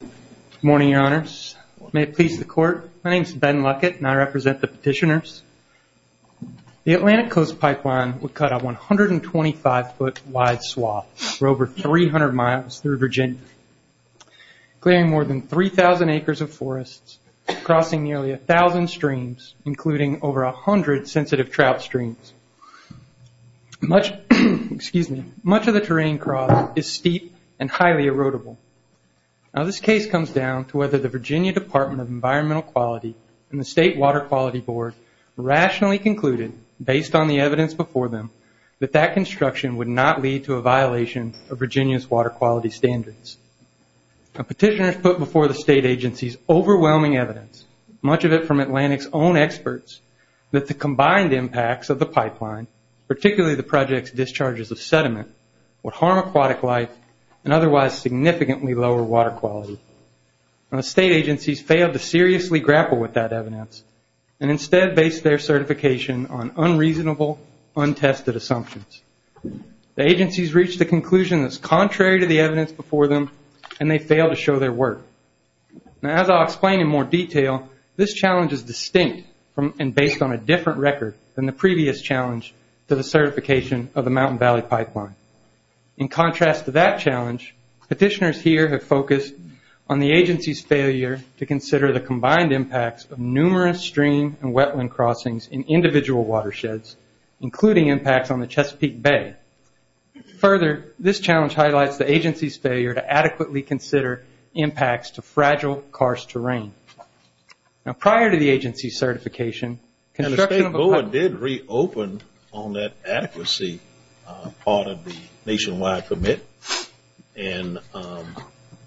Good morning, your honors. May it please the court, my name is Ben Luckett and I represent the petitioners. The Atlantic Coast Pipeline would cut a 125-foot wide swath for over 300 miles through Virginia, clearing more than 3,000 acres of forests, crossing nearly 1,000 streams, including over 100 sensitive trout streams. Much of the terrain crossed is steep and highly erodible. Now this case comes down to whether the Virginia Department of Environmental Quality and the State Water Quality Board rationally concluded, based on the evidence before them, that that construction would not lead to a violation of Virginia's water quality standards. A petitioner has put before the state agencies overwhelming evidence, much of it from Atlantic's own experts, that the combined impacts of the pipeline, particularly the project's discharges of sediment, would harm aquatic life and otherwise significantly lower water quality. The state agencies failed to seriously grapple with that evidence and instead based their certification on unreasonable, untested assumptions. The agencies reached a conclusion that's contrary to the evidence before them and they failed to show their work. Now as I'll explain in more detail, this challenge is distinct and based on a different record than the previous challenge to the certification of the Mountain Valley Pipeline. In contrast to that challenge, petitioners here have focused on the agency's failure to consider the combined impacts of numerous stream and wetland crossings in individual watersheds, including impacts on the Chesapeake Bay. Further, this challenge highlights the agency's failure to adequately consider impacts to fragile, karst terrain. Now prior to the State Board did reopen on that adequacy part of the Nationwide Permit,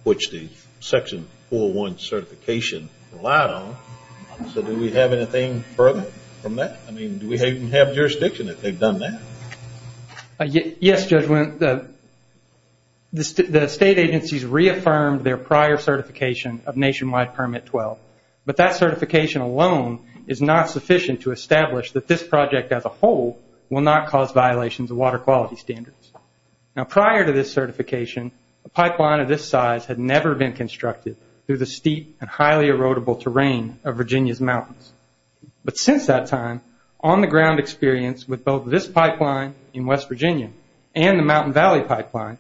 which the Section 401 certification relied on. So do we have anything further from that? I mean do we have jurisdiction if they've done that? Yes, Judge, the state agencies reaffirmed their prior certification of Nationwide Permit 12, but that certification alone is not sufficient to establish that this project as a whole will not cause violations of water quality standards. Now prior to this certification, a pipeline of this size had never been constructed through the steep and highly erodible terrain of Virginia's mountains. But since that time, on the ground experience with both this pipeline in West Virginia and the Mountain Valley Pipeline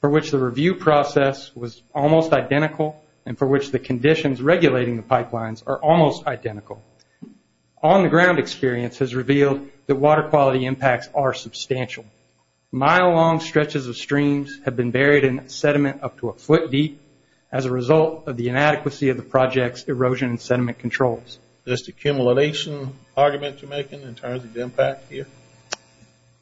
for which the review process was almost identical and for which the conditions regulating the ground experience has revealed that water quality impacts are substantial. Mile-long stretches of streams have been buried in sediment up to a foot deep as a result of the inadequacy of the project's erosion and sediment controls. Is this an accumulation argument you're making in terms of the impact here?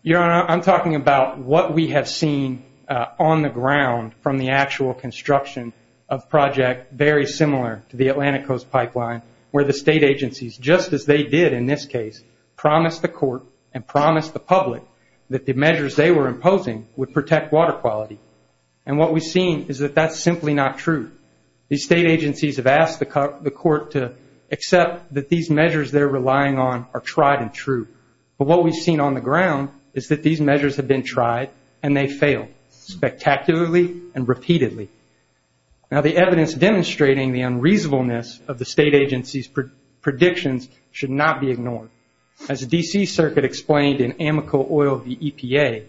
Your Honor, I'm talking about what we have seen on the ground from the actual construction of a project very similar to the Atlantic Coast Pipeline where the state agencies, just as they did in this case, promised the court and promised the public that the measures they were imposing would protect water quality. And what we've seen is that that's simply not true. These state agencies have asked the court to accept that these measures they're relying on are tried and true. But what we've seen on the ground is that these measures have been tried and they fail spectacularly and repeatedly. Now, the evidence demonstrating the unreasonableness of the state agency's predictions should not be ignored. As the D.C. Circuit explained in Amico Oil v. EPA,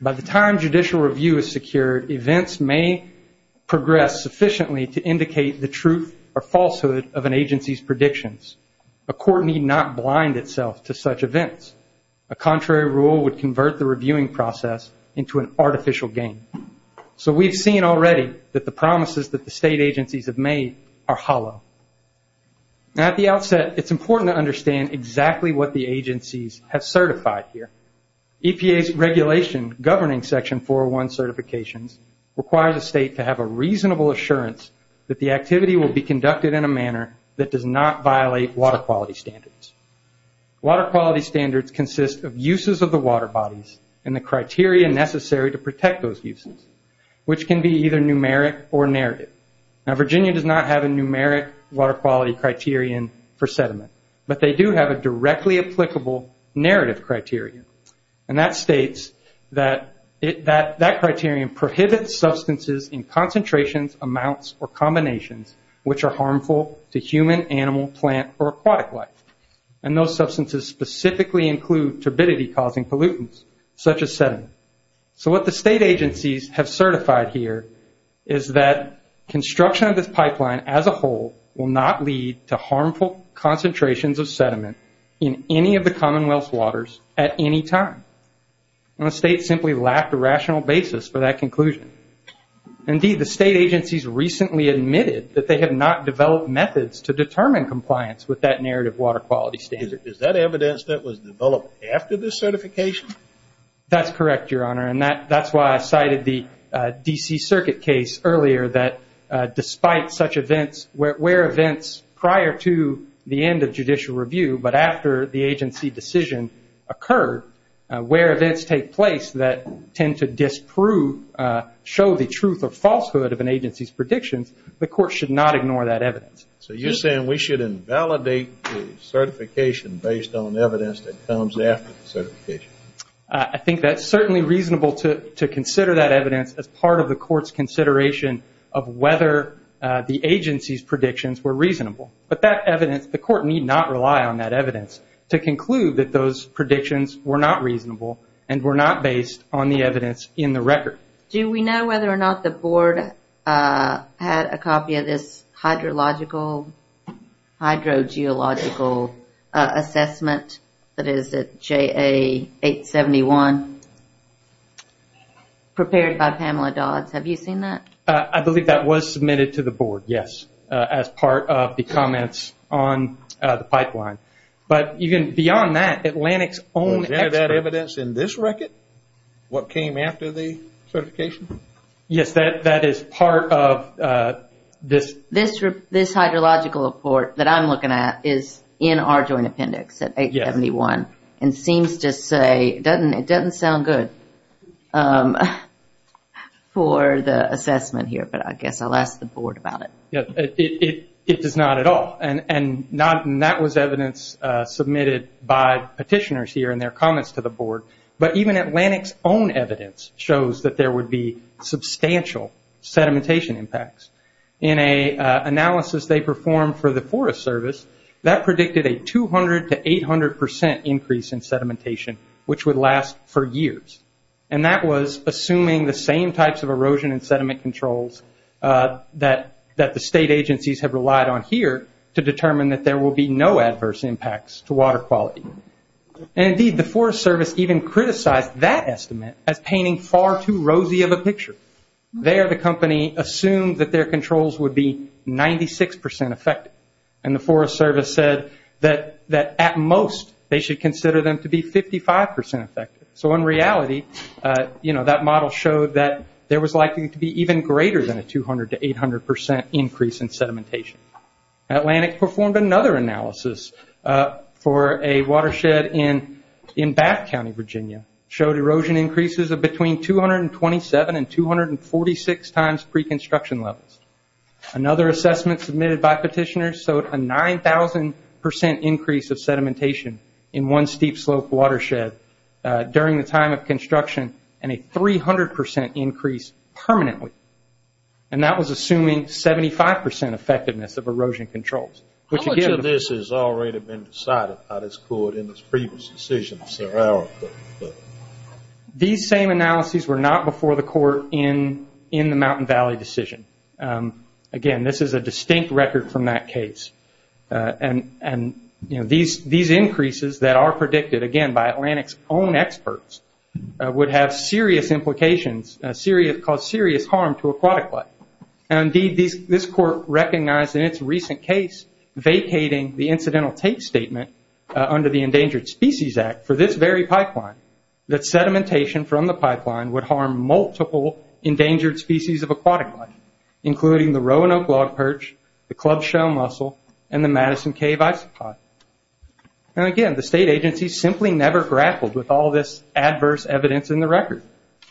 by the time judicial review is secured, events may progress sufficiently to indicate the truth or falsehood of an agency's predictions. A court need not blind itself to such events. A contrary rule would convert the reviewing process into an artificial game. So we've seen already that the promises that the state agencies have made are hollow. Now, at the outset, it's important to understand exactly what the agencies have certified here. EPA's regulation governing Section 401 certifications requires a state to have a reasonable assurance that the activity will be conducted in a manner that does not violate water quality standards. Water quality standards consist of uses of the water bodies and the criteria necessary to protect those uses, which can be either numeric or narrative. Now, Virginia does not have a numeric water quality criterion for sediment, but they do have a directly applicable narrative criterion. And that states that criterion prohibits substances in concentrations, amounts, or combinations which are harmful to human, animal, plant, or aquatic life. And those substances specifically include turbidity-causing pollutants, such as sediment. So what the state agencies have certified here is that construction of this pipeline as a whole will not lead to harmful concentrations of sediment in any of the Commonwealth's waters at any time. And the state simply lacked a rational basis for that conclusion. Indeed, the state agencies recently admitted that they have not developed methods to determine compliance with that narrative water quality standard. Is that evidence that was developed after this certification? That's correct, Your Honor. And that's why I cited the D.C. Circuit case earlier that despite such events, where events prior to the end of judicial review, but after the agency decision occurred, where events take place that tend to disprove, show the truth or falsehood of an agency's predictions, the court should not ignore that evidence. So you're saying we should invalidate the certification based on evidence that comes after the certification? I think that's certainly reasonable to consider that evidence as part of the court's consideration of whether the agency's predictions were reasonable. But that evidence, the court need not rely on that evidence to conclude that those predictions were not reasonable and were not based on the evidence in the record. Do we know whether or not the board had a copy of this hydrogeological assessment that is at JA 871 prepared by Pamela Dodds? Have you seen that? I believe that was submitted to the board, yes, as part of the comments on the pipeline. But even beyond that, Atlantic's own expert... Was any of that evidence in this record? What came after the certification? Yes, that is part of this... This hydrological report that I'm looking at is in our joint appendix at 871 and seems to say... It doesn't sound good for the assessment here, but I guess I'll ask the board about it. It does not at all. And that was evidence submitted by petitioners here in their comments to the board. But even Atlantic's own evidence shows that there would be substantial sedimentation impacts. In an analysis they performed for the Forest Service, that predicted a 200 to 800 percent increase in sedimentation, which would last for years. And that was assuming the same types of erosion and sediment controls that the state agencies have relied on here to determine that there will be no adverse impacts to water quality. And indeed, the Forest Service even criticized that estimate as painting far too rosy of a picture. There, the company assumed that their controls would be 96 percent effective. And the Forest Service said that at most they should consider them to be 55 percent effective. So in reality, that model showed that there was likely to be even greater than a 200 to 800 percent increase in sedimentation. Atlantic performed another analysis for a watershed in Bath County, Virginia. It showed erosion increases of between 227 and 246 times pre-construction levels. Another assessment submitted by petitioners showed a 9,000 percent increase of sedimentation in one steep slope watershed during the time of construction, and a 300 percent increase permanently. And that was assuming 75 percent effectiveness of erosion controls. How much of this has already been decided by this board in this previous decision, sir? These same analyses were not before the court in the Mountain Valley decision. Again, this is a distinct record from that case. And these increases that are predicted, again, by Atlantic's own experts would have serious implications, cause serious harm to aquatic life. And indeed, this court recognized in its recent case vacating the incidental tape statement under the Endangered Species Act for this very pipeline, that sedimentation from the pipeline would harm multiple endangered species of aquatic life, including the rowan oak log perch, the club-shell mussel, and the Madison cave isopod. And again, the state agencies simply never grappled with all this adverse evidence in the record.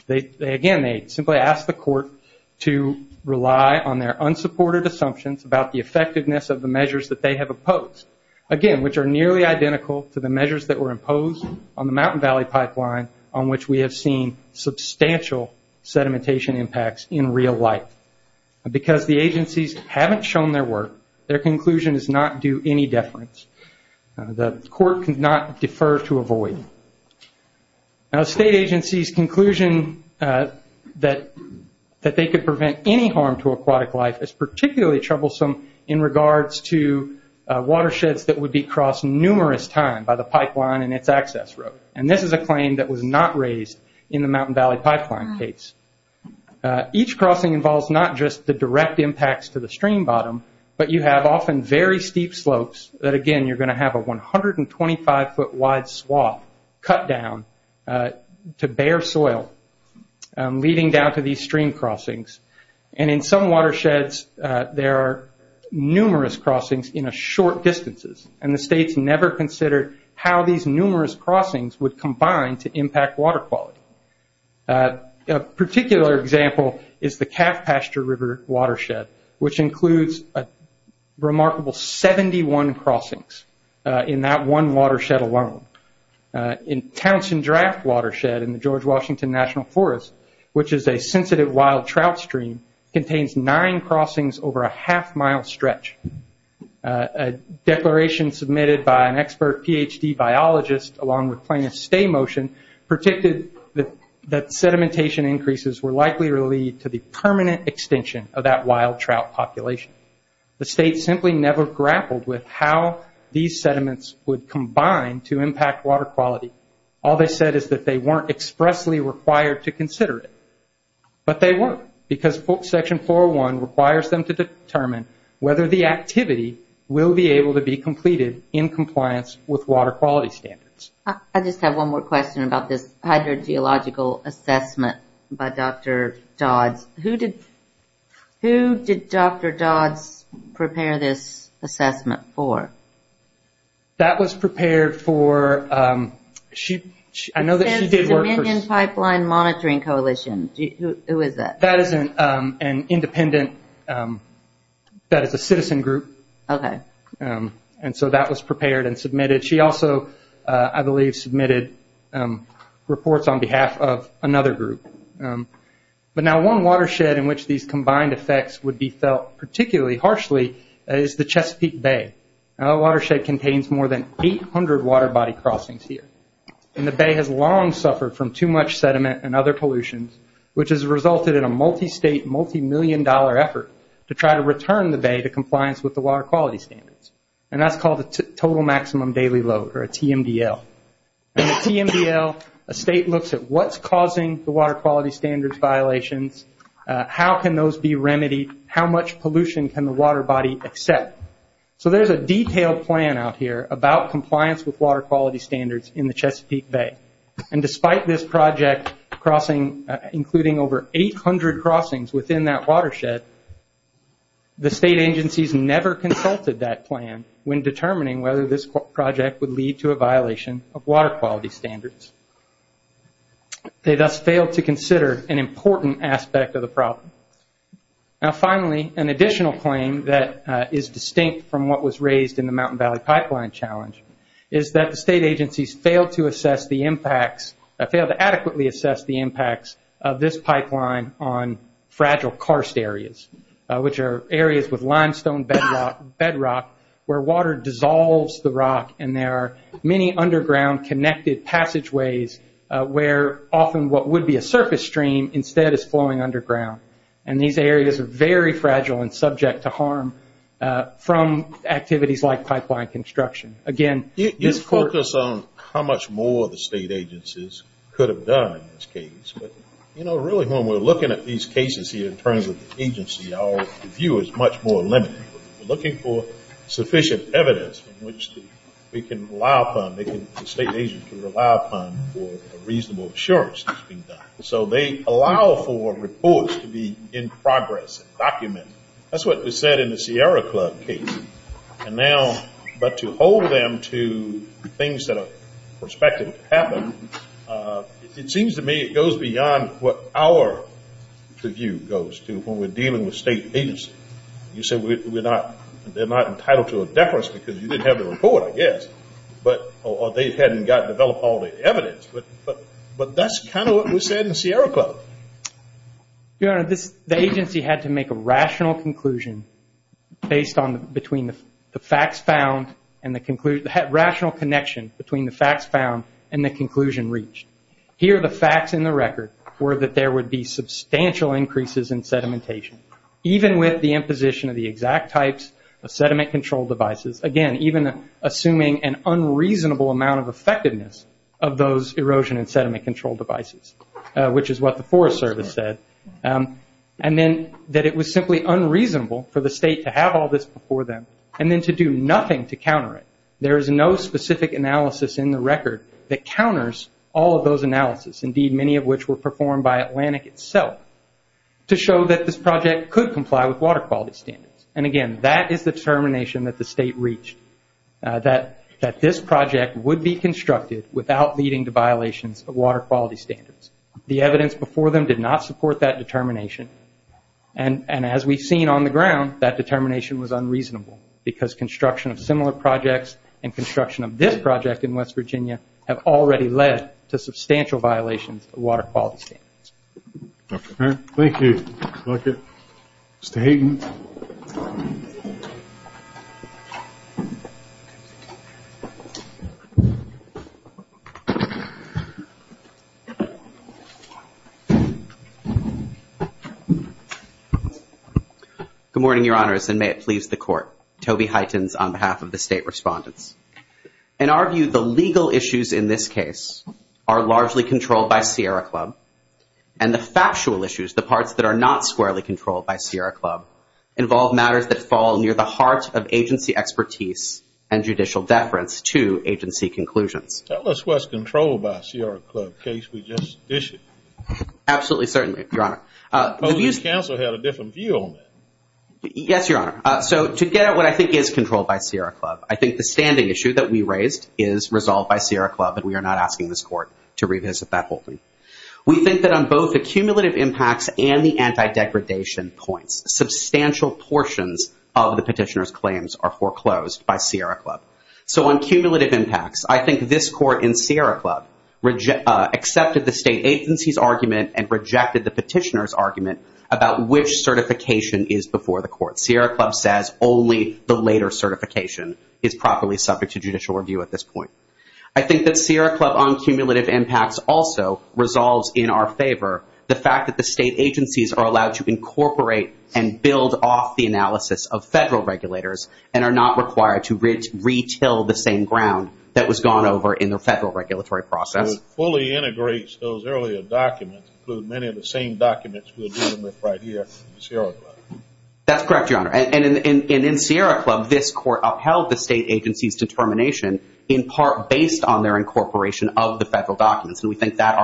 Again, they simply asked the court to rely on their unsupported assumptions about the effectiveness of the measures that they have opposed. Again, which are nearly identical to the measures that were imposed on the Mountain Valley pipeline on which we have seen substantial sedimentation impacts in real life. Because the agencies haven't shown their work, their conclusion is not due any deference. The court cannot defer to avoid. State agencies' conclusion that they could prevent any harm to aquatic life is particularly troublesome in regards to watersheds that would be crossed numerous times by the pipeline and its access road. And this is a claim that was not raised in the Mountain Valley pipeline case. Each crossing involves not just the direct impacts to the stream bottom, but you have often very steep slopes that again, you're going to have a 125 foot wide swath cut down to bare soil, leading down to these stream crossings. And in some watersheds, there are numerous crossings in short distances, and the states never considered how these numerous crossings would combine to impact water quality. A particular example is the Calf Pasture River watershed, which includes a remarkable 71 crossings in that one watershed alone. In Townshend Draft Watershed in the George Washington National Forest, which is a sensitive wild trout stream, contains nine crossings over a half mile stretch. A declaration submitted by an expert PhD biologist along with plaintiff's stay motion, predicted that sedimentation increases were likely to lead to the permanent extinction of that wild trout population. The state simply never grappled with how these sediments would combine to impact water quality. All they said is that they weren't expressly required to consider it. But they weren't, because Section 401 requires them to determine whether the activity will be able to be completed in compliance with water quality standards. I just have one more question about this hydrogeological assessment by Dr. Dodds. Who did Dr. Dodds prepare this assessment for? That was prepared for, she, I know that she did work for... It says the Dominion Pipeline Monitoring Coalition. Who is that? That is an independent, that is a citizen group, and so that was prepared and submitted. She also, I believe, submitted reports on behalf of another group. But now one watershed in which these combined effects would be felt particularly harshly is the Chesapeake Bay. That watershed contains more than 800 water body crossings here. The bay has long suffered from too much sediment and other pollutions, which has resulted in a multi-state, multi-million dollar effort to try to return the bay to compliance with the water quality standards. That's called a Total Maximum Daily Load, or a TMDL. In the TMDL, a state looks at what's causing the water quality standards violations, how can those be remedied, how much pollution can the water body accept. So there's a detailed plan out here about compliance with water quality standards in the Chesapeake Bay. Despite this project, including over 800 crossings within that watershed, the state agencies never consulted that plan when determining whether this project would lead to a violation of water quality standards. They thus failed to consider an important aspect of the problem. Now finally, an additional claim that is distinct from what was raised in the Mountain Valley Pipeline Challenge is that the state agencies failed to assess the impacts, failed to adequately assess the fragile karst areas, which are areas with limestone bedrock where water dissolves the rock and there are many underground connected passageways where often what would be a surface stream instead is flowing underground. And these areas are very fragile and subject to harm from activities like pipeline construction. Again, you focus on how much more the state agencies could have done in this case, but really when we're looking at these cases here in terms of the agency, our view is much more limited. We're looking for sufficient evidence in which we can rely upon, the state agencies can rely upon for reasonable assurance. So they allow for reports to be in progress, documented. That's what was said in the Sierra Club case. And now, but to hold them to things that are prospective to happen, it seems to me it goes beyond what our view goes to when we're dealing with state agencies. You said we're not, they're not entitled to a deference because you didn't have the report, I guess. But, or they hadn't got, developed all the evidence. But that's kind of what was said in the Sierra Club. Your Honor, the agency had to make a rational conclusion based on, between the facts found and the conclusion, rational connection between the facts found and the conclusion reached. Here the facts in the record were that there would be substantial increases in sedimentation, even with the imposition of the exact types of sediment control devices. Again, even assuming an unreasonable amount of effectiveness of those erosion and sediment control devices, which is what the Forest Service said. And then that it was simply unreasonable for the There is no specific analysis in the record that counters all of those analysis, indeed many of which were performed by Atlantic itself, to show that this project could comply with water quality standards. And again, that is the determination that the state reached, that this project would be constructed without leading to violations of water quality standards. The evidence before them did not support that determination. And as we've seen on the ground, that determination was unreasonable, because construction of similar projects and construction of this project in West Virginia have already led to substantial violations of water quality standards. Thank you. Mr. Hayden. Good morning, Your Honors, and may it please the Court. Toby Hytens on behalf of the State Respondents. In our view, the legal issues in this case are largely controlled by Sierra Club, involve matters that fall near the heart of agency expertise and judicial deference to agency conclusions. Tell us what's controlled by Sierra Club, in case we just dish it. Absolutely, certainly, Your Honor. Well, the council had a different view on that. Yes, Your Honor. So, to get at what I think is controlled by Sierra Club, I think the standing issue that we raised is resolved by Sierra Club, and we are not asking this Court to revisit that holding. We think that on both the cumulative impacts and the anti-degradation points, substantial portions of the petitioner's claims are foreclosed by Sierra Club. So, on cumulative impacts, I think this Court in Sierra Club accepted the state agency's argument and rejected the petitioner's argument about which certification is before the Court. Sierra Club says only the later certification is properly subject to judicial review at this point. I think that Sierra Club on cumulative impacts also resolves in our favor the fact that the state agencies are allowed to incorporate and build off the analysis of federal regulators and are not required to retell the same ground that was gone over in the federal regulatory process. So, it fully integrates those earlier documents, including many of the same documents we're dealing with right here in Sierra Club. That's correct, Your Honor. And in Sierra Club, this Court upheld the state agency's determination in part based on their incorporation of the federal documents, and we think that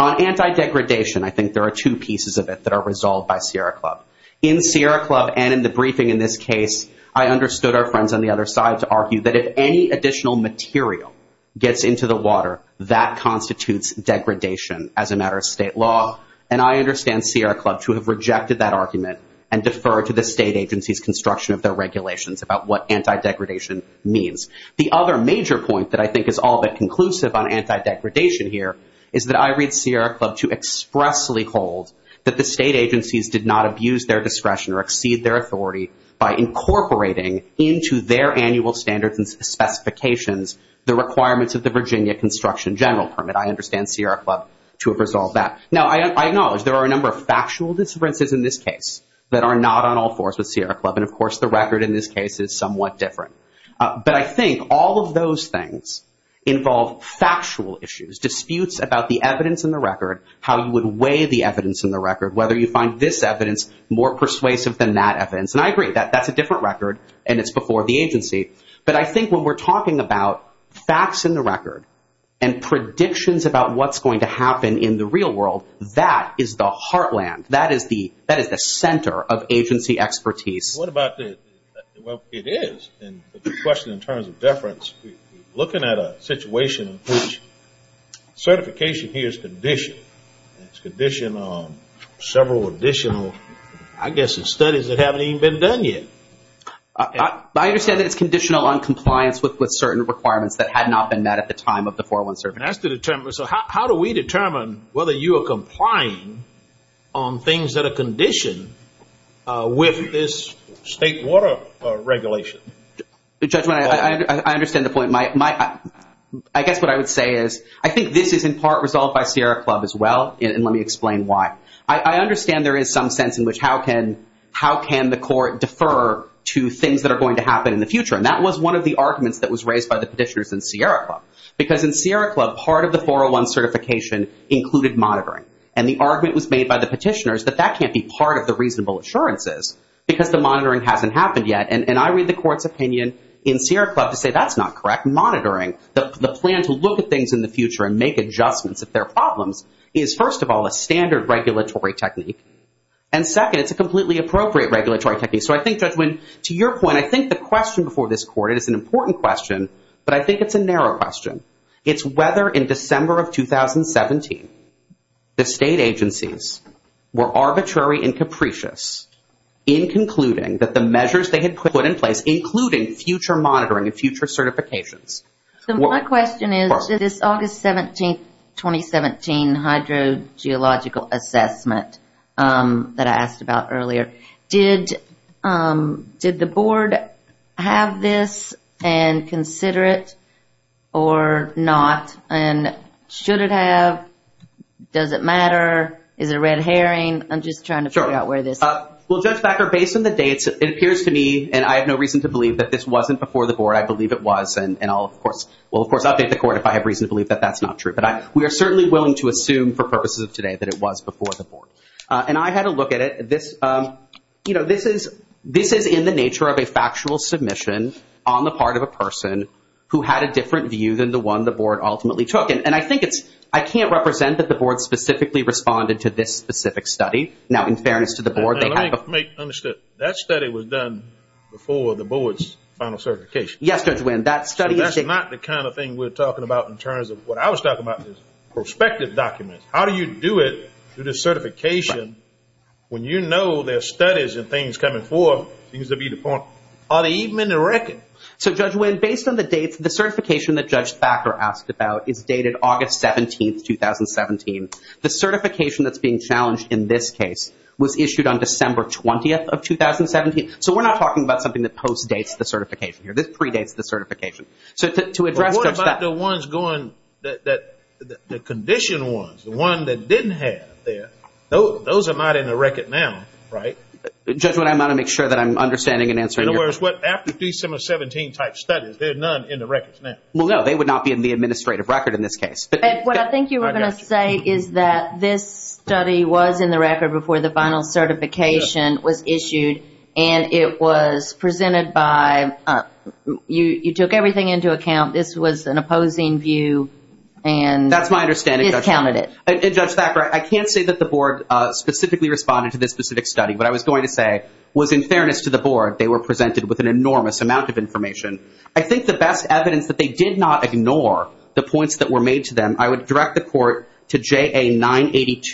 On anti-degradation, I think there are two pieces of it that are resolved by Sierra Club. In Sierra Club and in the briefing in this case, I understood our friends on the other side to argue that if any additional material gets into the water, that constitutes degradation as a matter of state law, and I understand Sierra Club to have rejected that argument and deferred to the state agency's construction of their regulations about what anti-degradation means. The other major point that I think is all but conclusive on anti-degradation here is that I read Sierra Club to expressly hold that the state agencies did not abuse their discretion or exceed their authority by incorporating into their annual standards and specifications the requirements of the Virginia Construction General Permit. I understand Sierra Club to have resolved that. Now, I acknowledge there are a number of factual differences in this case that are not on all fours with Sierra Club, and of course, the record in this case is somewhat different. But I think all of those things involve factual issues, disputes about the evidence in the record, how you would weigh the evidence in the record, whether you find this evidence more persuasive than that evidence, and I agree that that's a different record and it's before the agency, but I think when we're talking about facts in the record and predictions about what's going to happen in the real world, that is the heartland, that is the center of agency expertise. What about the, well, it is, but the question in terms of deference, we're looking at a situation in which certification here is conditioned. It's conditioned on several additional, I guess, studies that haven't even been done yet. I understand that it's conditional on compliance with certain requirements that had not been met at the time of the 401 survey. That's to determine, so how do we determine whether you are complying on things that are state water regulation? Judge, I understand the point. I guess what I would say is I think this is in part resolved by Sierra Club as well, and let me explain why. I understand there is some sense in which how can the court defer to things that are going to happen in the future, and that was one of the arguments that was raised by the petitioners in Sierra Club. Because in Sierra Club, part of the 401 certification included monitoring, and the argument was made by the petitioners that that can't be part of the reasonable assurances because the monitoring hasn't happened yet. And I read the court's opinion in Sierra Club to say that's not correct. Monitoring, the plan to look at things in the future and make adjustments if there are problems is, first of all, a standard regulatory technique. And second, it's a completely appropriate regulatory technique. So I think, Judge Winn, to your point, I think the question before this court, it is an important question, but I think it's a narrow question. It's whether in December of 2017 the state agencies were arbitrary and capricious in concluding that the measures they had put in place, including future monitoring and future certifications, were part of it. So my question is, this August 17, 2017 hydrogeological assessment that I asked about earlier, did the board have this and consider it or not? And should it have? Does it matter? Is it red herring? I'm just trying to figure out where this is. Well, Judge Becker, based on the dates, it appears to me, and I have no reason to believe that this wasn't before the board. I believe it was. And I'll, of course, will, of course, update the court if I have reason to believe that that's not true. But we are certainly willing to assume for purposes of today that it was before the board. And I had a look at it. This is in the nature of a factual submission on the part of a person who had a different view than the one the board ultimately took. And I think it's – I can't represent that the board specifically responded to this specific study. Now, in my understanding, that study was done before the board's final certification. Yes, Judge Wynn. That study is – So that's not the kind of thing we're talking about in terms of what I was talking about, is prospective documents. How do you do it through the certification when you know there are studies and things coming forward? It seems to be the point. Are they even in the record? So, Judge Wynn, based on the dates, the certification that Judge Becker asked about is dated August 17th, 2017. The certification that's being challenged in this case was issued on December 20th of 2017. So we're not talking about something that post-dates the certification here. This predates the certification. So to address – Well, what about the ones going – the condition ones, the one that didn't have there? Those are not in the record now, right? Judge Wynn, I want to make sure that I'm understanding and answering your – In other words, what – after December 17 type studies, there are none in the records now? Well, no. They would not be in the administrative record in this case. What I think you were going to say is that this study was in the record before the final certification was issued, and it was presented by – you took everything into account. This was an opposing view, and this counted it. That's my understanding, Judge. And, Judge Becker, I can't say that the board specifically responded to this specific study. What I was going to say was, in fairness to the board, they were presented with an enormous amount of information. I think the best evidence that they did not ignore the points that were made to them, I would direct the court to JA 982-1012,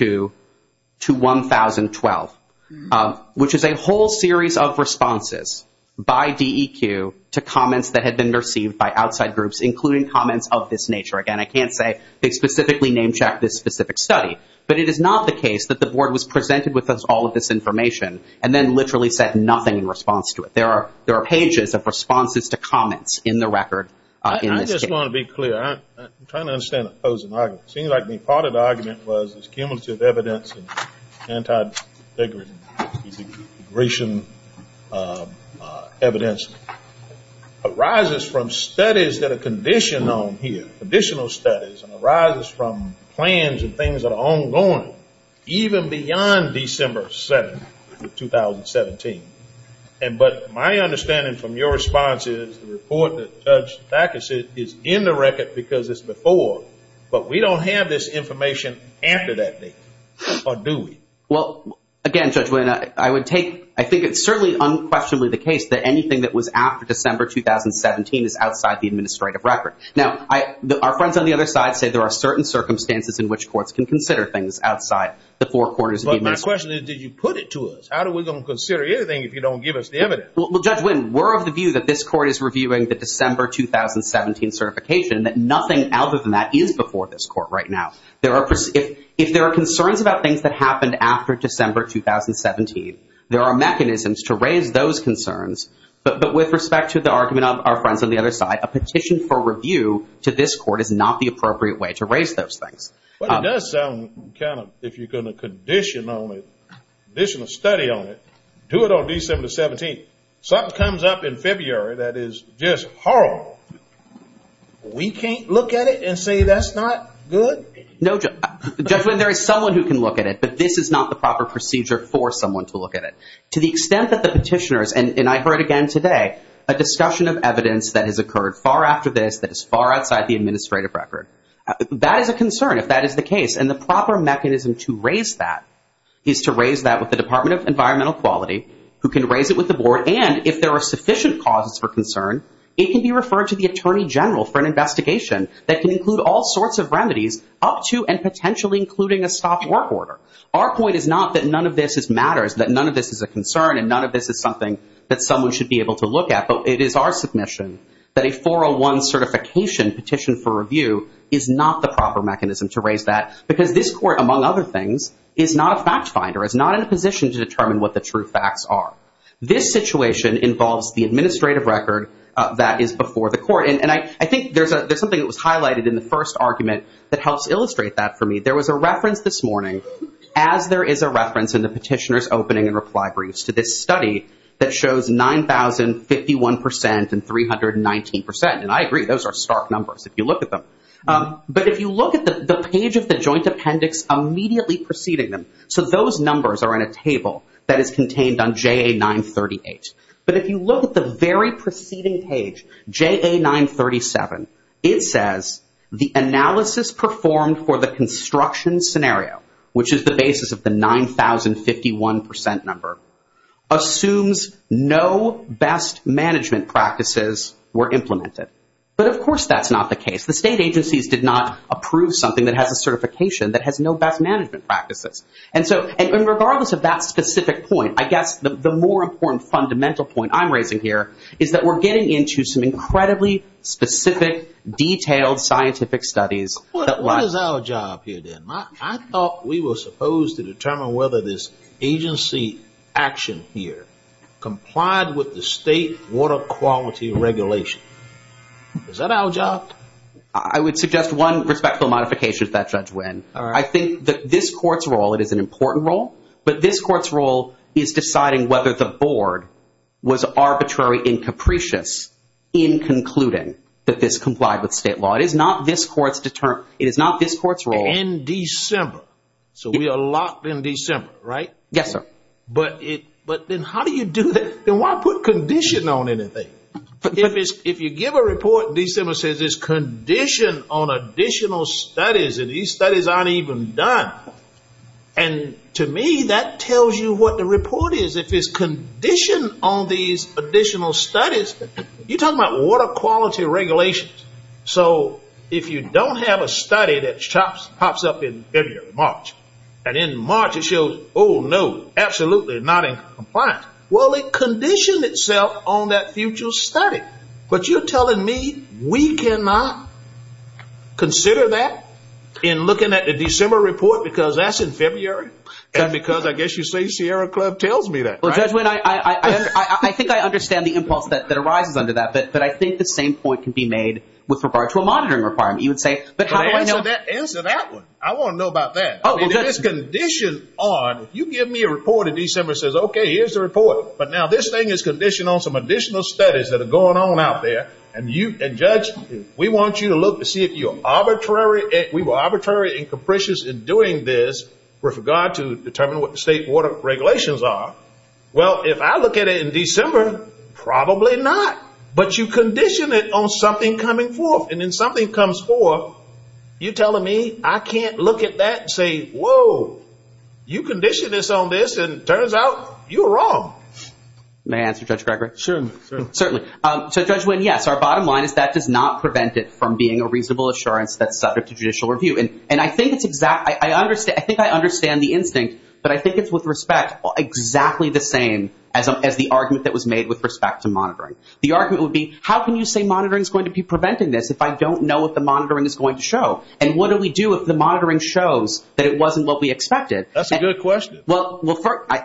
which is a whole series of responses by DEQ to comments that had been received by outside groups, including comments of this nature. Again, I can't say they specifically name-checked this specific study, but it is not the case that the board was presented with all of this information and then literally said nothing in response to it. There are I just want to be clear. I'm trying to understand the opposing argument. It seems like the part of the argument was this cumulative evidence and anti-degradation evidence arises from studies that are conditioned on here, additional studies, and arises from plans and things that are ongoing, even beyond December 7th of 2017. But my understanding from your response is the report that Judge Thacker said is in the record because it's before, but we don't have this information after that date, or do we? Well, again, Judge William, I would take, I think it's certainly unquestionably the case that anything that was after December 2017 is outside the administrative record. Now, our friends on the other side say there are certain circumstances in which courts can consider things outside the four corners of the administration. My question is, did you put it to us? How are we going to consider anything if you don't give us the evidence? Well, Judge Wynne, we're of the view that this court is reviewing the December 2017 certification, that nothing other than that is before this court right now. If there are concerns about things that happened after December 2017, there are mechanisms to raise those concerns. But with respect to the argument of our friends on the other side, a petition for review to this court is not the appropriate way to raise those things. Well, it does sound kind of, if you're going to condition on it, condition a study on it, do it on December 17th. Something comes up in February that is just horrible, we can't look at it and say that's not good? No, Judge Wynne, there is someone who can look at it, but this is not the proper procedure for someone to look at it. To the extent that the petitioners, and I heard again today, a discussion of evidence that has occurred far after this that is far away, if that is the case, and the proper mechanism to raise that is to raise that with the Department of Environmental Quality, who can raise it with the board, and if there are sufficient causes for concern, it can be referred to the Attorney General for an investigation that can include all sorts of remedies up to and potentially including a stopped work order. Our point is not that none of this matters, that none of this is a concern and none of this is something that someone should be able to look at, but it is our submission that a 401 certification petition for review is not the proper mechanism to raise that because this court, among other things, is not a fact finder, is not in a position to determine what the true facts are. This situation involves the administrative record that is before the court, and I think there is something that was highlighted in the first argument that helps illustrate that for me. There was a reference this morning, as there is a reference in the petitioner's opening and reply briefs to this study, that shows 9,051% and 319%, and I agree, those are stark numbers if you look at them, but if you look at the page of the joint appendix immediately preceding them, so those numbers are in a table that is contained on JA 938, but if you look at the very preceding page, JA 937, it says, the analysis performed for the construction scenario, which is the basis of the 9,051% number, assumes no best management practices were implemented, but of course that's not the case. The state agencies did not approve something that has a certification that has no best management practices, and so regardless of that specific point, I guess the more important fundamental point I'm raising here is that we're getting into some incredibly specific, detailed scientific studies. What is our job here then? I thought we were supposed to determine whether this agency action here complied with the state water quality regulation. Is that our job? I would suggest one respectful modification to that, Judge Wynn. I think that this court's role, it is an important role, but this court's role is deciding whether the board was arbitrary and capricious in concluding that this complied with state law. It is not this court's role. In December. So we are locked in December, right? Yes, sir. But then how do you do that? Then why put condition on anything? If you give a report in December that says it's condition on additional studies and these studies aren't even done, and to me that tells you what the report is. If it's condition on these additional studies, you're talking about water quality regulations. So if you don't have a study that pops up in February, March, and in March it shows, oh, no, absolutely not in compliance, well, it conditioned itself on that future study. But you're telling me we cannot consider that in looking at the December report because that's in February and because I guess you say Sierra Club tells me that, right? Well, Judge Wynn, I think I understand the impulse that arises under that, but I think the same point can be made with regard to a monitoring requirement. You would say, but how do I know... Answer that one. I want to know about that. Oh, well, Judge... If it's condition on, if you give me a report in December that says, okay, here's the report, but now this thing is conditioned on some additional studies that are going on out there, and, Judge, we want you to look to see if you're arbitrary, if we were arbitrary and capricious in doing this with regard to determining what the state water regulations are. Well, if I look at it in December, probably not, but you condition it on something coming forth, and then something comes forth, you're telling me I can't look at that and say, whoa, you conditioned us on this, and it turns out you were wrong. May I answer, Judge Gregory? Certainly. Certainly. So, Judge Wynn, yes, our bottom line is that does not prevent it from being a reasonable assurance that's subject to judicial review, and I think I understand the instinct, but I think it's with respect exactly the same as the argument that was made with respect to monitoring. The argument would be, how can you say monitoring is going to be preventing this if I don't know what the monitoring is going to show, and what do we do if the monitoring shows that it wasn't what we expected? That's a good question. Well,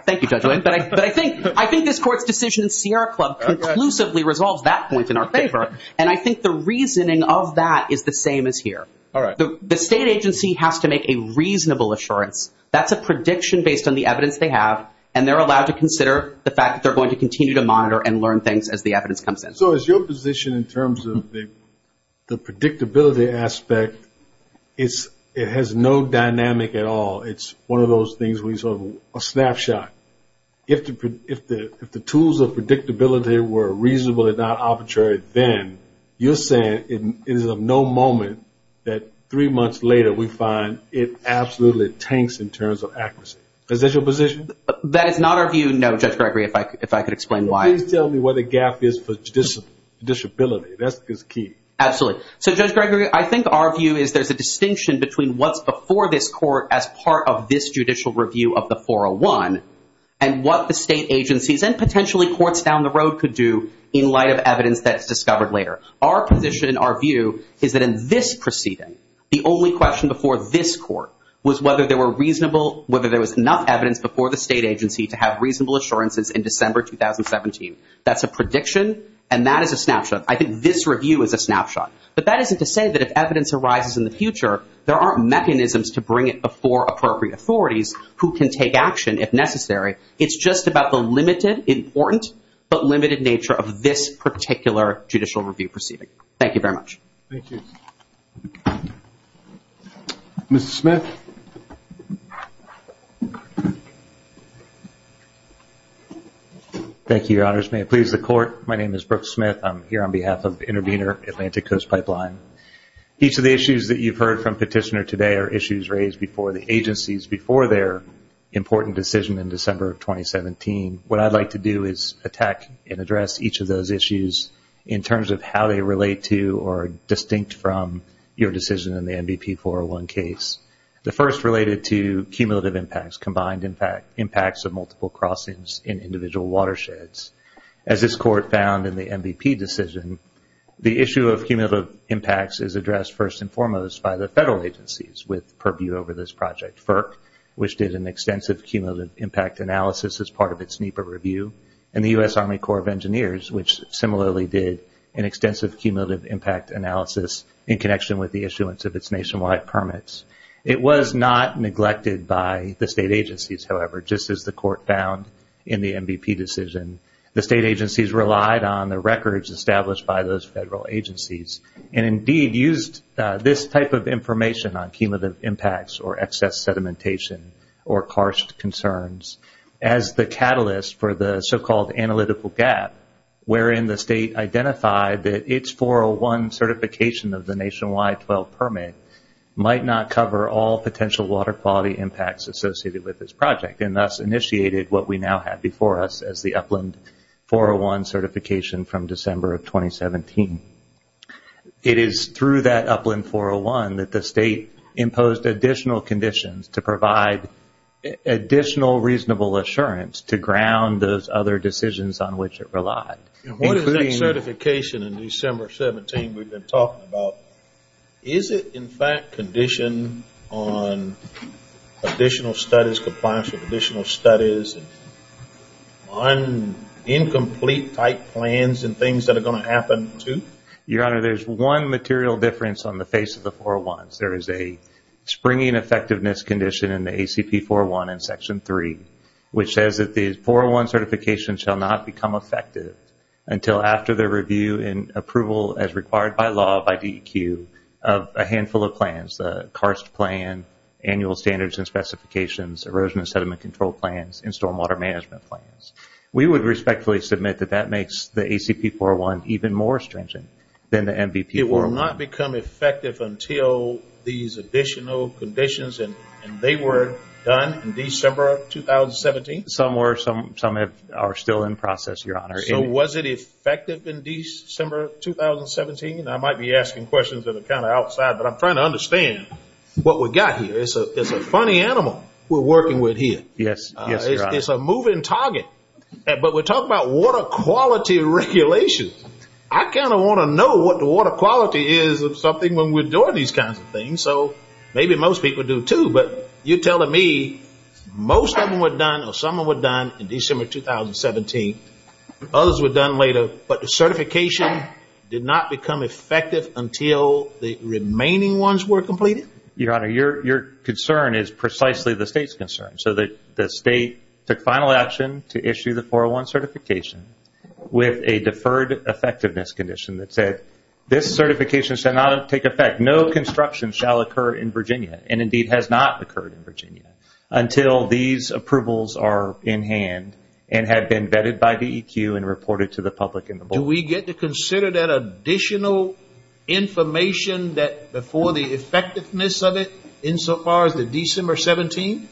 thank you, Judge Wynn, but I think this Court's decision in Sierra Club conclusively resolves that point in our favor, and I think the reasoning of that is the same as here. All right. The state agency has to make a reasonable assurance. That's a prediction based on the evidence they have, and they're allowed to consider the fact that they're going to continue to monitor and learn things as the evidence comes in. So is your position in terms of the predictability aspect, it has no dynamic at all. It's one of those things where you sort of have a snapshot. If the tools of predictability were reasonable and not arbitrary, then you're saying it is of no moment that three months later we find it absolutely tanks in terms of accuracy. Is that your position? That is not our view, no, Judge Gregory, if I could explain why. Please tell me where the gap is for judicial ability. That's key. Absolutely. So, Judge Gregory, I think our view is there's a distinction between what's before this and what the state agencies and potentially courts down the road could do in light of evidence that's discovered later. Our position and our view is that in this proceeding, the only question before this court was whether there was enough evidence before the state agency to have reasonable assurances in December 2017. That's a prediction, and that is a snapshot. I think this review is a snapshot. But that isn't to say that if evidence arises in the future, there aren't mechanisms to bring it before appropriate authorities who can take action if necessary. It's just about the limited, important, but limited nature of this particular judicial review proceeding. Thank you very much. Thank you. Mr. Smith. Thank you, Your Honors. May it please the Court, my name is Brooke Smith. I'm here on behalf of Intervenor Atlantic Coast Pipeline. Each of the issues that you've heard from Petitioner today are issues raised before the agencies before their important decision in December of 2017. What I'd like to do is attack and address each of those issues in terms of how they relate to or are distinct from your decision in the MVP 401 case. The first related to cumulative impacts, combined impacts of multiple crossings in individual watersheds. As this Court found in the MVP decision, the issue of cumulative impacts is addressed first and foremost by the federal agencies with purview over this project. FERC, which did an extensive cumulative impact analysis as part of its NEPA review, and the U.S. Army Corps of Engineers, which similarly did an extensive cumulative impact analysis in connection with the issuance of its nationwide permits. It was not neglected by the state agencies, however. Just as the Court found in the MVP decision, the state agencies relied on the records established by those federal agencies and indeed used this type of information on cumulative impacts or excess sedimentation or harsh concerns as the catalyst for the so-called analytical gap, wherein the state identified that its 401 certification of the nationwide 12 permit might not cover all potential water quality impacts associated with this project and thus initiated what we now have before us as the Upland 401 certification from December of 2017. It is through that Upland 401 that the state imposed additional conditions to provide additional reasonable assurance to ground those other decisions on which it relied. What is that certification in December 17 we've been talking about? Is it in fact conditioned on additional studies, compliance with additional studies, on incomplete type plans and things that are going to happen to? Your Honor, there's one material difference on the face of the 401s. There is a springing effectiveness condition in the ACP 401 in Section 3, which says that the 401 certification shall not become effective until after the review and approval as required by law, by DEQ, of a handful of plans, the CARST plan, annual standards and specifications, erosion and sediment control plans, and stormwater management plans. We would respectfully submit that that makes the ACP 401 even more stringent than the MVP 401. It will not become effective until these additional conditions and they were done in December of 2017? Some are still in process, Your Honor. So was it effective in December 2017? I might be asking questions that are kind of outside, but I'm trying to understand what we've got here. It's a funny animal we're working with here. Yes, Your Honor. It's a moving target, but we're talking about water quality regulation. I kind of want to know what the water quality is of something when we're doing these kinds of things. So maybe most people do too, but you're telling me most of them were done in December 2017. Others were done later, but the certification did not become effective until the remaining ones were completed? Your Honor, your concern is precisely the state's concern. So the state took final action to issue the 401 certification with a deferred effectiveness condition that said this certification shall not take effect. No construction shall occur in Virginia and, indeed, has not occurred in Virginia until these approvals are in hand and have been vetted by DEQ and reported to the public in the book. Do we get to consider that additional information before the effectiveness of it insofar as the December 17th?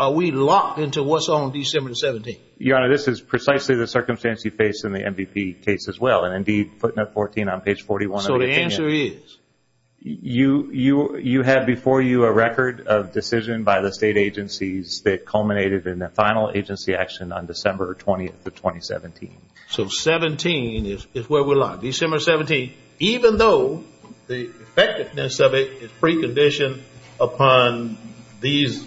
Are we locked into what's on December 17th? Your Honor, this is precisely the circumstance you face in the MVP case as well, and, indeed, footnote 14 on page 41 of the opinion. So the answer is? You have before you a record of decision by the state agencies that culminated in the final agency action on December 20th of 2017. So 17 is where we're locked, December 17th, even though the effectiveness of it is preconditioned upon these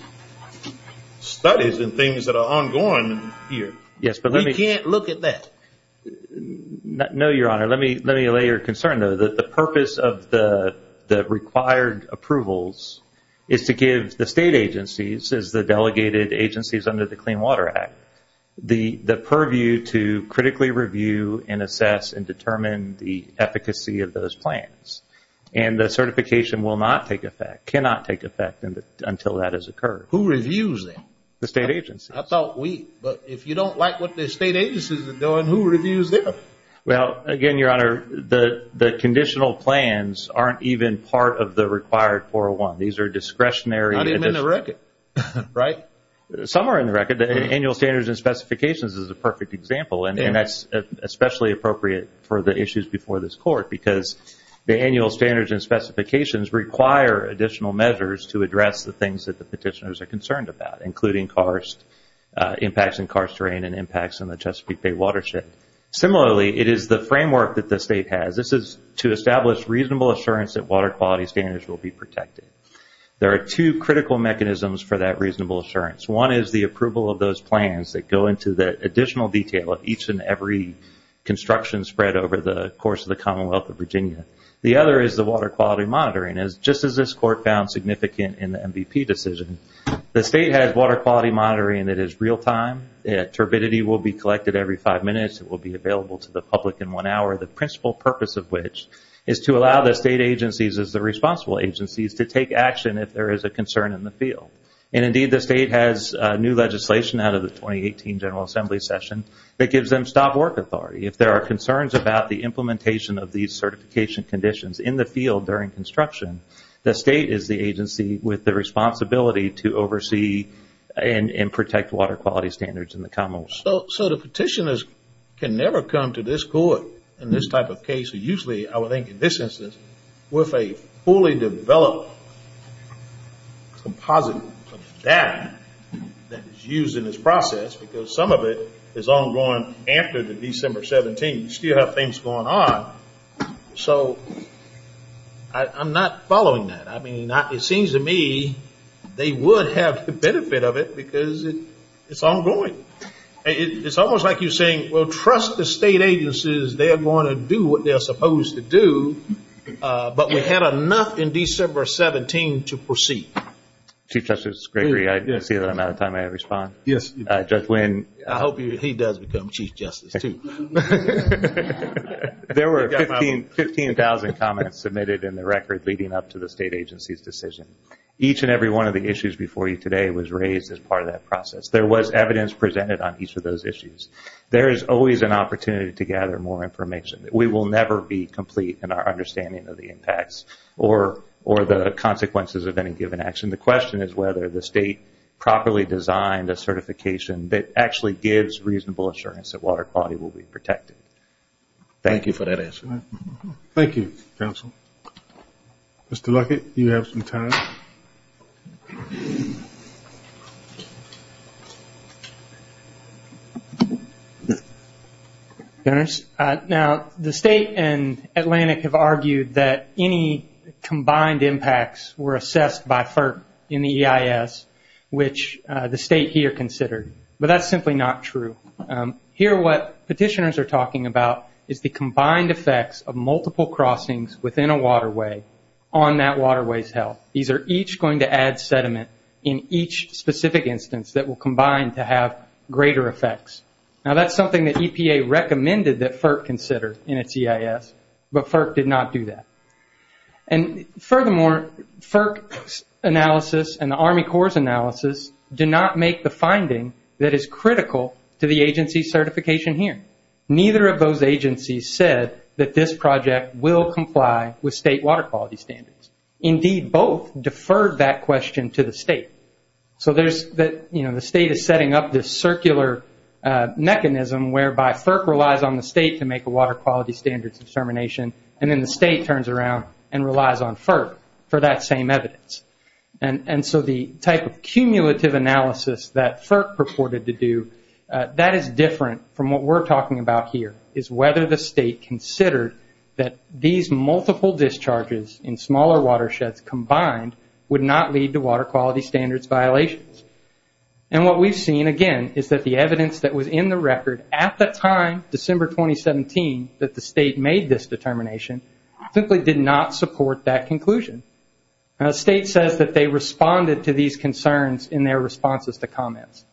studies and things that are ongoing here. We can't look at that. No, Your Honor. Let me allay your concern, though. The purpose of the required approvals is to give the state agencies, as the delegated agencies under the Clean Water Act, the purview to critically review and assess and determine the efficacy of those plans. And the certification will not take effect, cannot take effect until that has occurred. Who reviews them? The state agencies. I thought we. But if you don't like what the state agencies are doing, who reviews them? Well, again, Your Honor, the conditional plans aren't even part of the required 401. These are discretionary. Not even in the record, right? Some are in the record. The annual standards and specifications is a perfect example, and that's especially appropriate for the issues before this Court because the annual standards and specifications require additional measures to address the things that the petitioners are concerned about, including impacts in karst terrain and impacts on the Chesapeake Bay watershed. Similarly, it is the framework that the state has. This is to establish reasonable assurance that water quality standards will be protected. There are two critical mechanisms for that reasonable assurance. One is the approval of those plans that go into the additional detail of each and every construction spread over the course of the Commonwealth of Virginia. The other is the water quality monitoring. Just as this Court found significant in the MVP decision, the state has water quality monitoring that is real-time. Turbidity will be collected every five minutes. It will be available to the public in one hour. The principal purpose of which is to allow the state agencies as the responsible agencies to take action if there is a concern in the field. And, indeed, the state has new legislation out of the 2018 General Assembly session that gives them stop work authority. If there are concerns about the implementation of these certification conditions in the field during construction, the state is the agency with the responsibility to oversee and protect water quality standards in the Commonwealth. So the petitioners can never come to this Court in this type of case. Usually, I would think in this instance, with a fully developed composite of data that is used in this process, because some of it is ongoing after December 17, you still have things going on. So I'm not following that. I mean, it seems to me they would have the benefit of it because it's ongoing. It's almost like you're saying, well, trust the state agencies. They're going to do what they're supposed to do. But we had enough in December 17 to proceed. Chief Justice Gregory, I see that I'm out of time. May I respond? Yes. Judge Wynn. I hope he does become Chief Justice, too. There were 15,000 comments submitted in the record leading up to the state agency's decision. Each and every one of the issues before you today was raised as part of that process. There was evidence presented on each of those issues. There is always an opportunity to gather more information. We will never be complete in our understanding of the impacts or the consequences of any given action. The question is whether the state properly designed a certification that actually gives reasonable assurance that water quality will be protected. Thank you for that answer. Thank you, counsel. Mr. Luckett, you have some time. Now, the state and Atlantic have argued that any combined impacts were assessed by FERC in the EIS, which the state here considered. But that's simply not true. Here what petitioners are talking about is the combined effects of multiple crossings within a waterway on that waterway's health. These are each going to add sediment in each specific instance that will combine to have greater effects. Now, that's something that EPA recommended that FERC consider in its EIS, but FERC did not do that. Furthermore, FERC's analysis and the Army Corps' analysis do not make the finding that is critical to the agency certification here. Neither of those agencies said that this project will comply with state water quality standards. Indeed, both deferred that question to the state. The state is setting up this circular mechanism whereby FERC relies on the state to make a water quality standards determination, and then the state turns around and relies on FERC for that same evidence. So the type of cumulative analysis that FERC purported to do, that is different from what we're talking about here, is whether the state considered that these multiple discharges in smaller watersheds combined would not lead to water quality standards violations. What we've seen, again, is that the evidence that was in the record at the time, December 2017, that the state made this determination simply did not support that conclusion. The state says that they responded to these concerns in their responses to comments,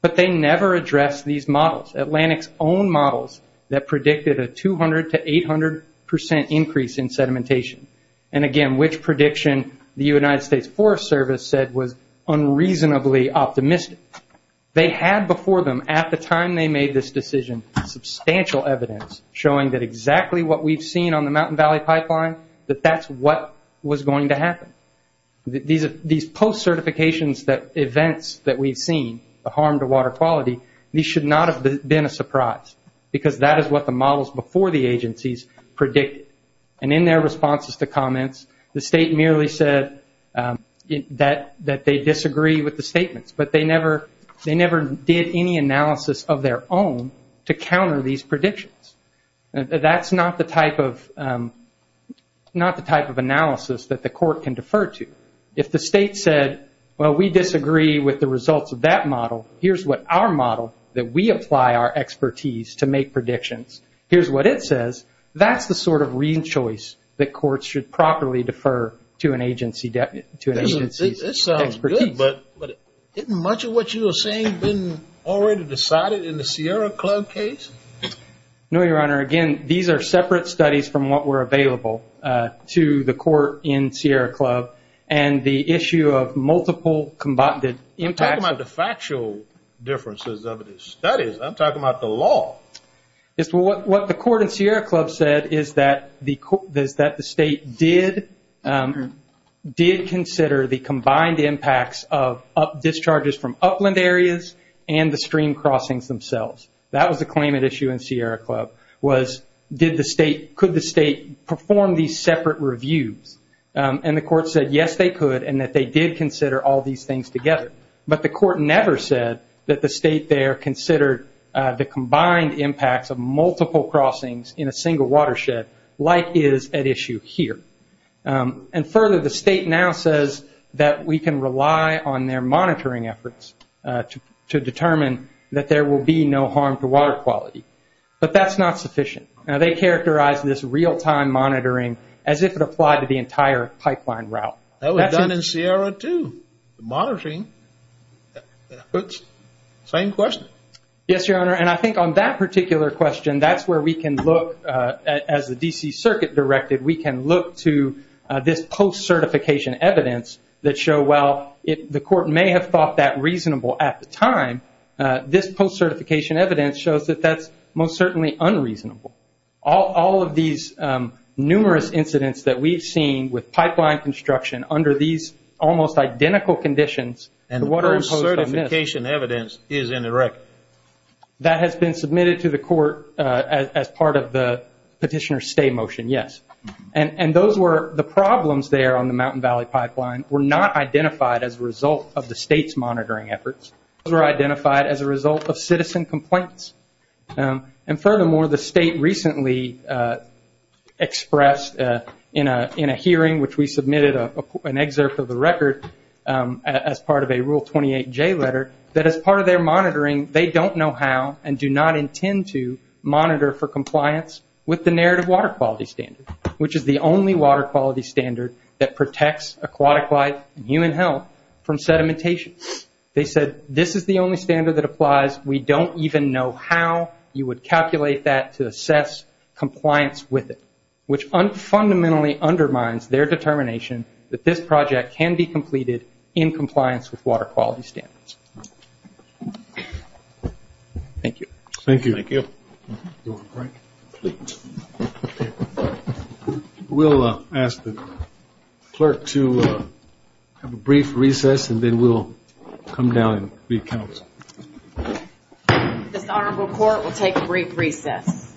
but they never addressed these models, Atlantic's own models that predicted a 200 to 800 percent increase in sedimentation. And again, which prediction the United States Forest Service said was unreasonably optimistic. They had before them, at the time they made this decision, substantial evidence showing that exactly what we've seen on the Mountain Valley Pipeline, that that's what was going to happen. These post-certifications events that we've seen, the harm to water quality, these should not have been a surprise, because that is what the models before the agencies predicted. And in their responses to comments, the state merely said that they disagree with the statements, but they never did any analysis of their own to counter these predictions. That's not the type of analysis that the court can defer to. If the state said, well, we disagree with the results of that model, here's what our model that we apply our expertise to make predictions, here's what it says, that's the sort of reason choice that courts should properly defer to an agency's expertise. It sounds good, but isn't much of what you were saying been already decided in the Sierra Club case? No, Your Honor. Again, these are separate studies from what were available to the court in Sierra Club, and the issue of multiple combated impacts. You're talking about the factual differences of the studies. I'm talking about the law. What the court in Sierra Club said is that the state did consider the combined impacts of discharges from upland areas and the stream crossings themselves. That was the claimant issue in Sierra Club, was could the state perform these separate reviews? And the court said, yes, they could, and that they did consider all these things together. But the court never said that the state there considered the combined impacts of multiple crossings in a single watershed like is at issue here. And further, the state now says that we can rely on their monitoring efforts to determine that there will be no harm to water quality. But that's not sufficient. Now, they characterize this real-time monitoring as if it applied to the entire pipeline route. That was done in Sierra, too, the monitoring. Same question. Yes, Your Honor, and I think on that particular question, that's where we can look, as the D.C. Circuit directed, we can look to this post-certification evidence that show, well, the court may have thought that reasonable at the time. This post-certification evidence shows that that's most certainly unreasonable. All of these numerous incidents that we've seen with pipeline construction under these almost identical conditions, and what are imposed on this. And the post-certification evidence is in the record. That has been submitted to the court as part of the petitioner's stay motion, yes. And those were the problems there on the Mountain Valley Pipeline were not identified as a result of the state's monitoring efforts. Those were identified as a result of citizen complaints. And furthermore, the state recently expressed in a hearing, which we submitted an excerpt of the record, as part of a Rule 28J letter, that as part of their monitoring, they don't know how and do not intend to monitor for compliance with the narrative water quality standard, which is the only water quality standard that protects aquatic life and human health from sedimentation. They said, this is the only standard that applies. We don't even know how you would calculate that to assess compliance with it, which fundamentally undermines their determination that this project can be completed in compliance with water quality standards. Thank you. Thank you. Thank you. We'll ask the clerk to have a brief recess, and then we'll come down and re-counsel. This honorable court will take a brief recess.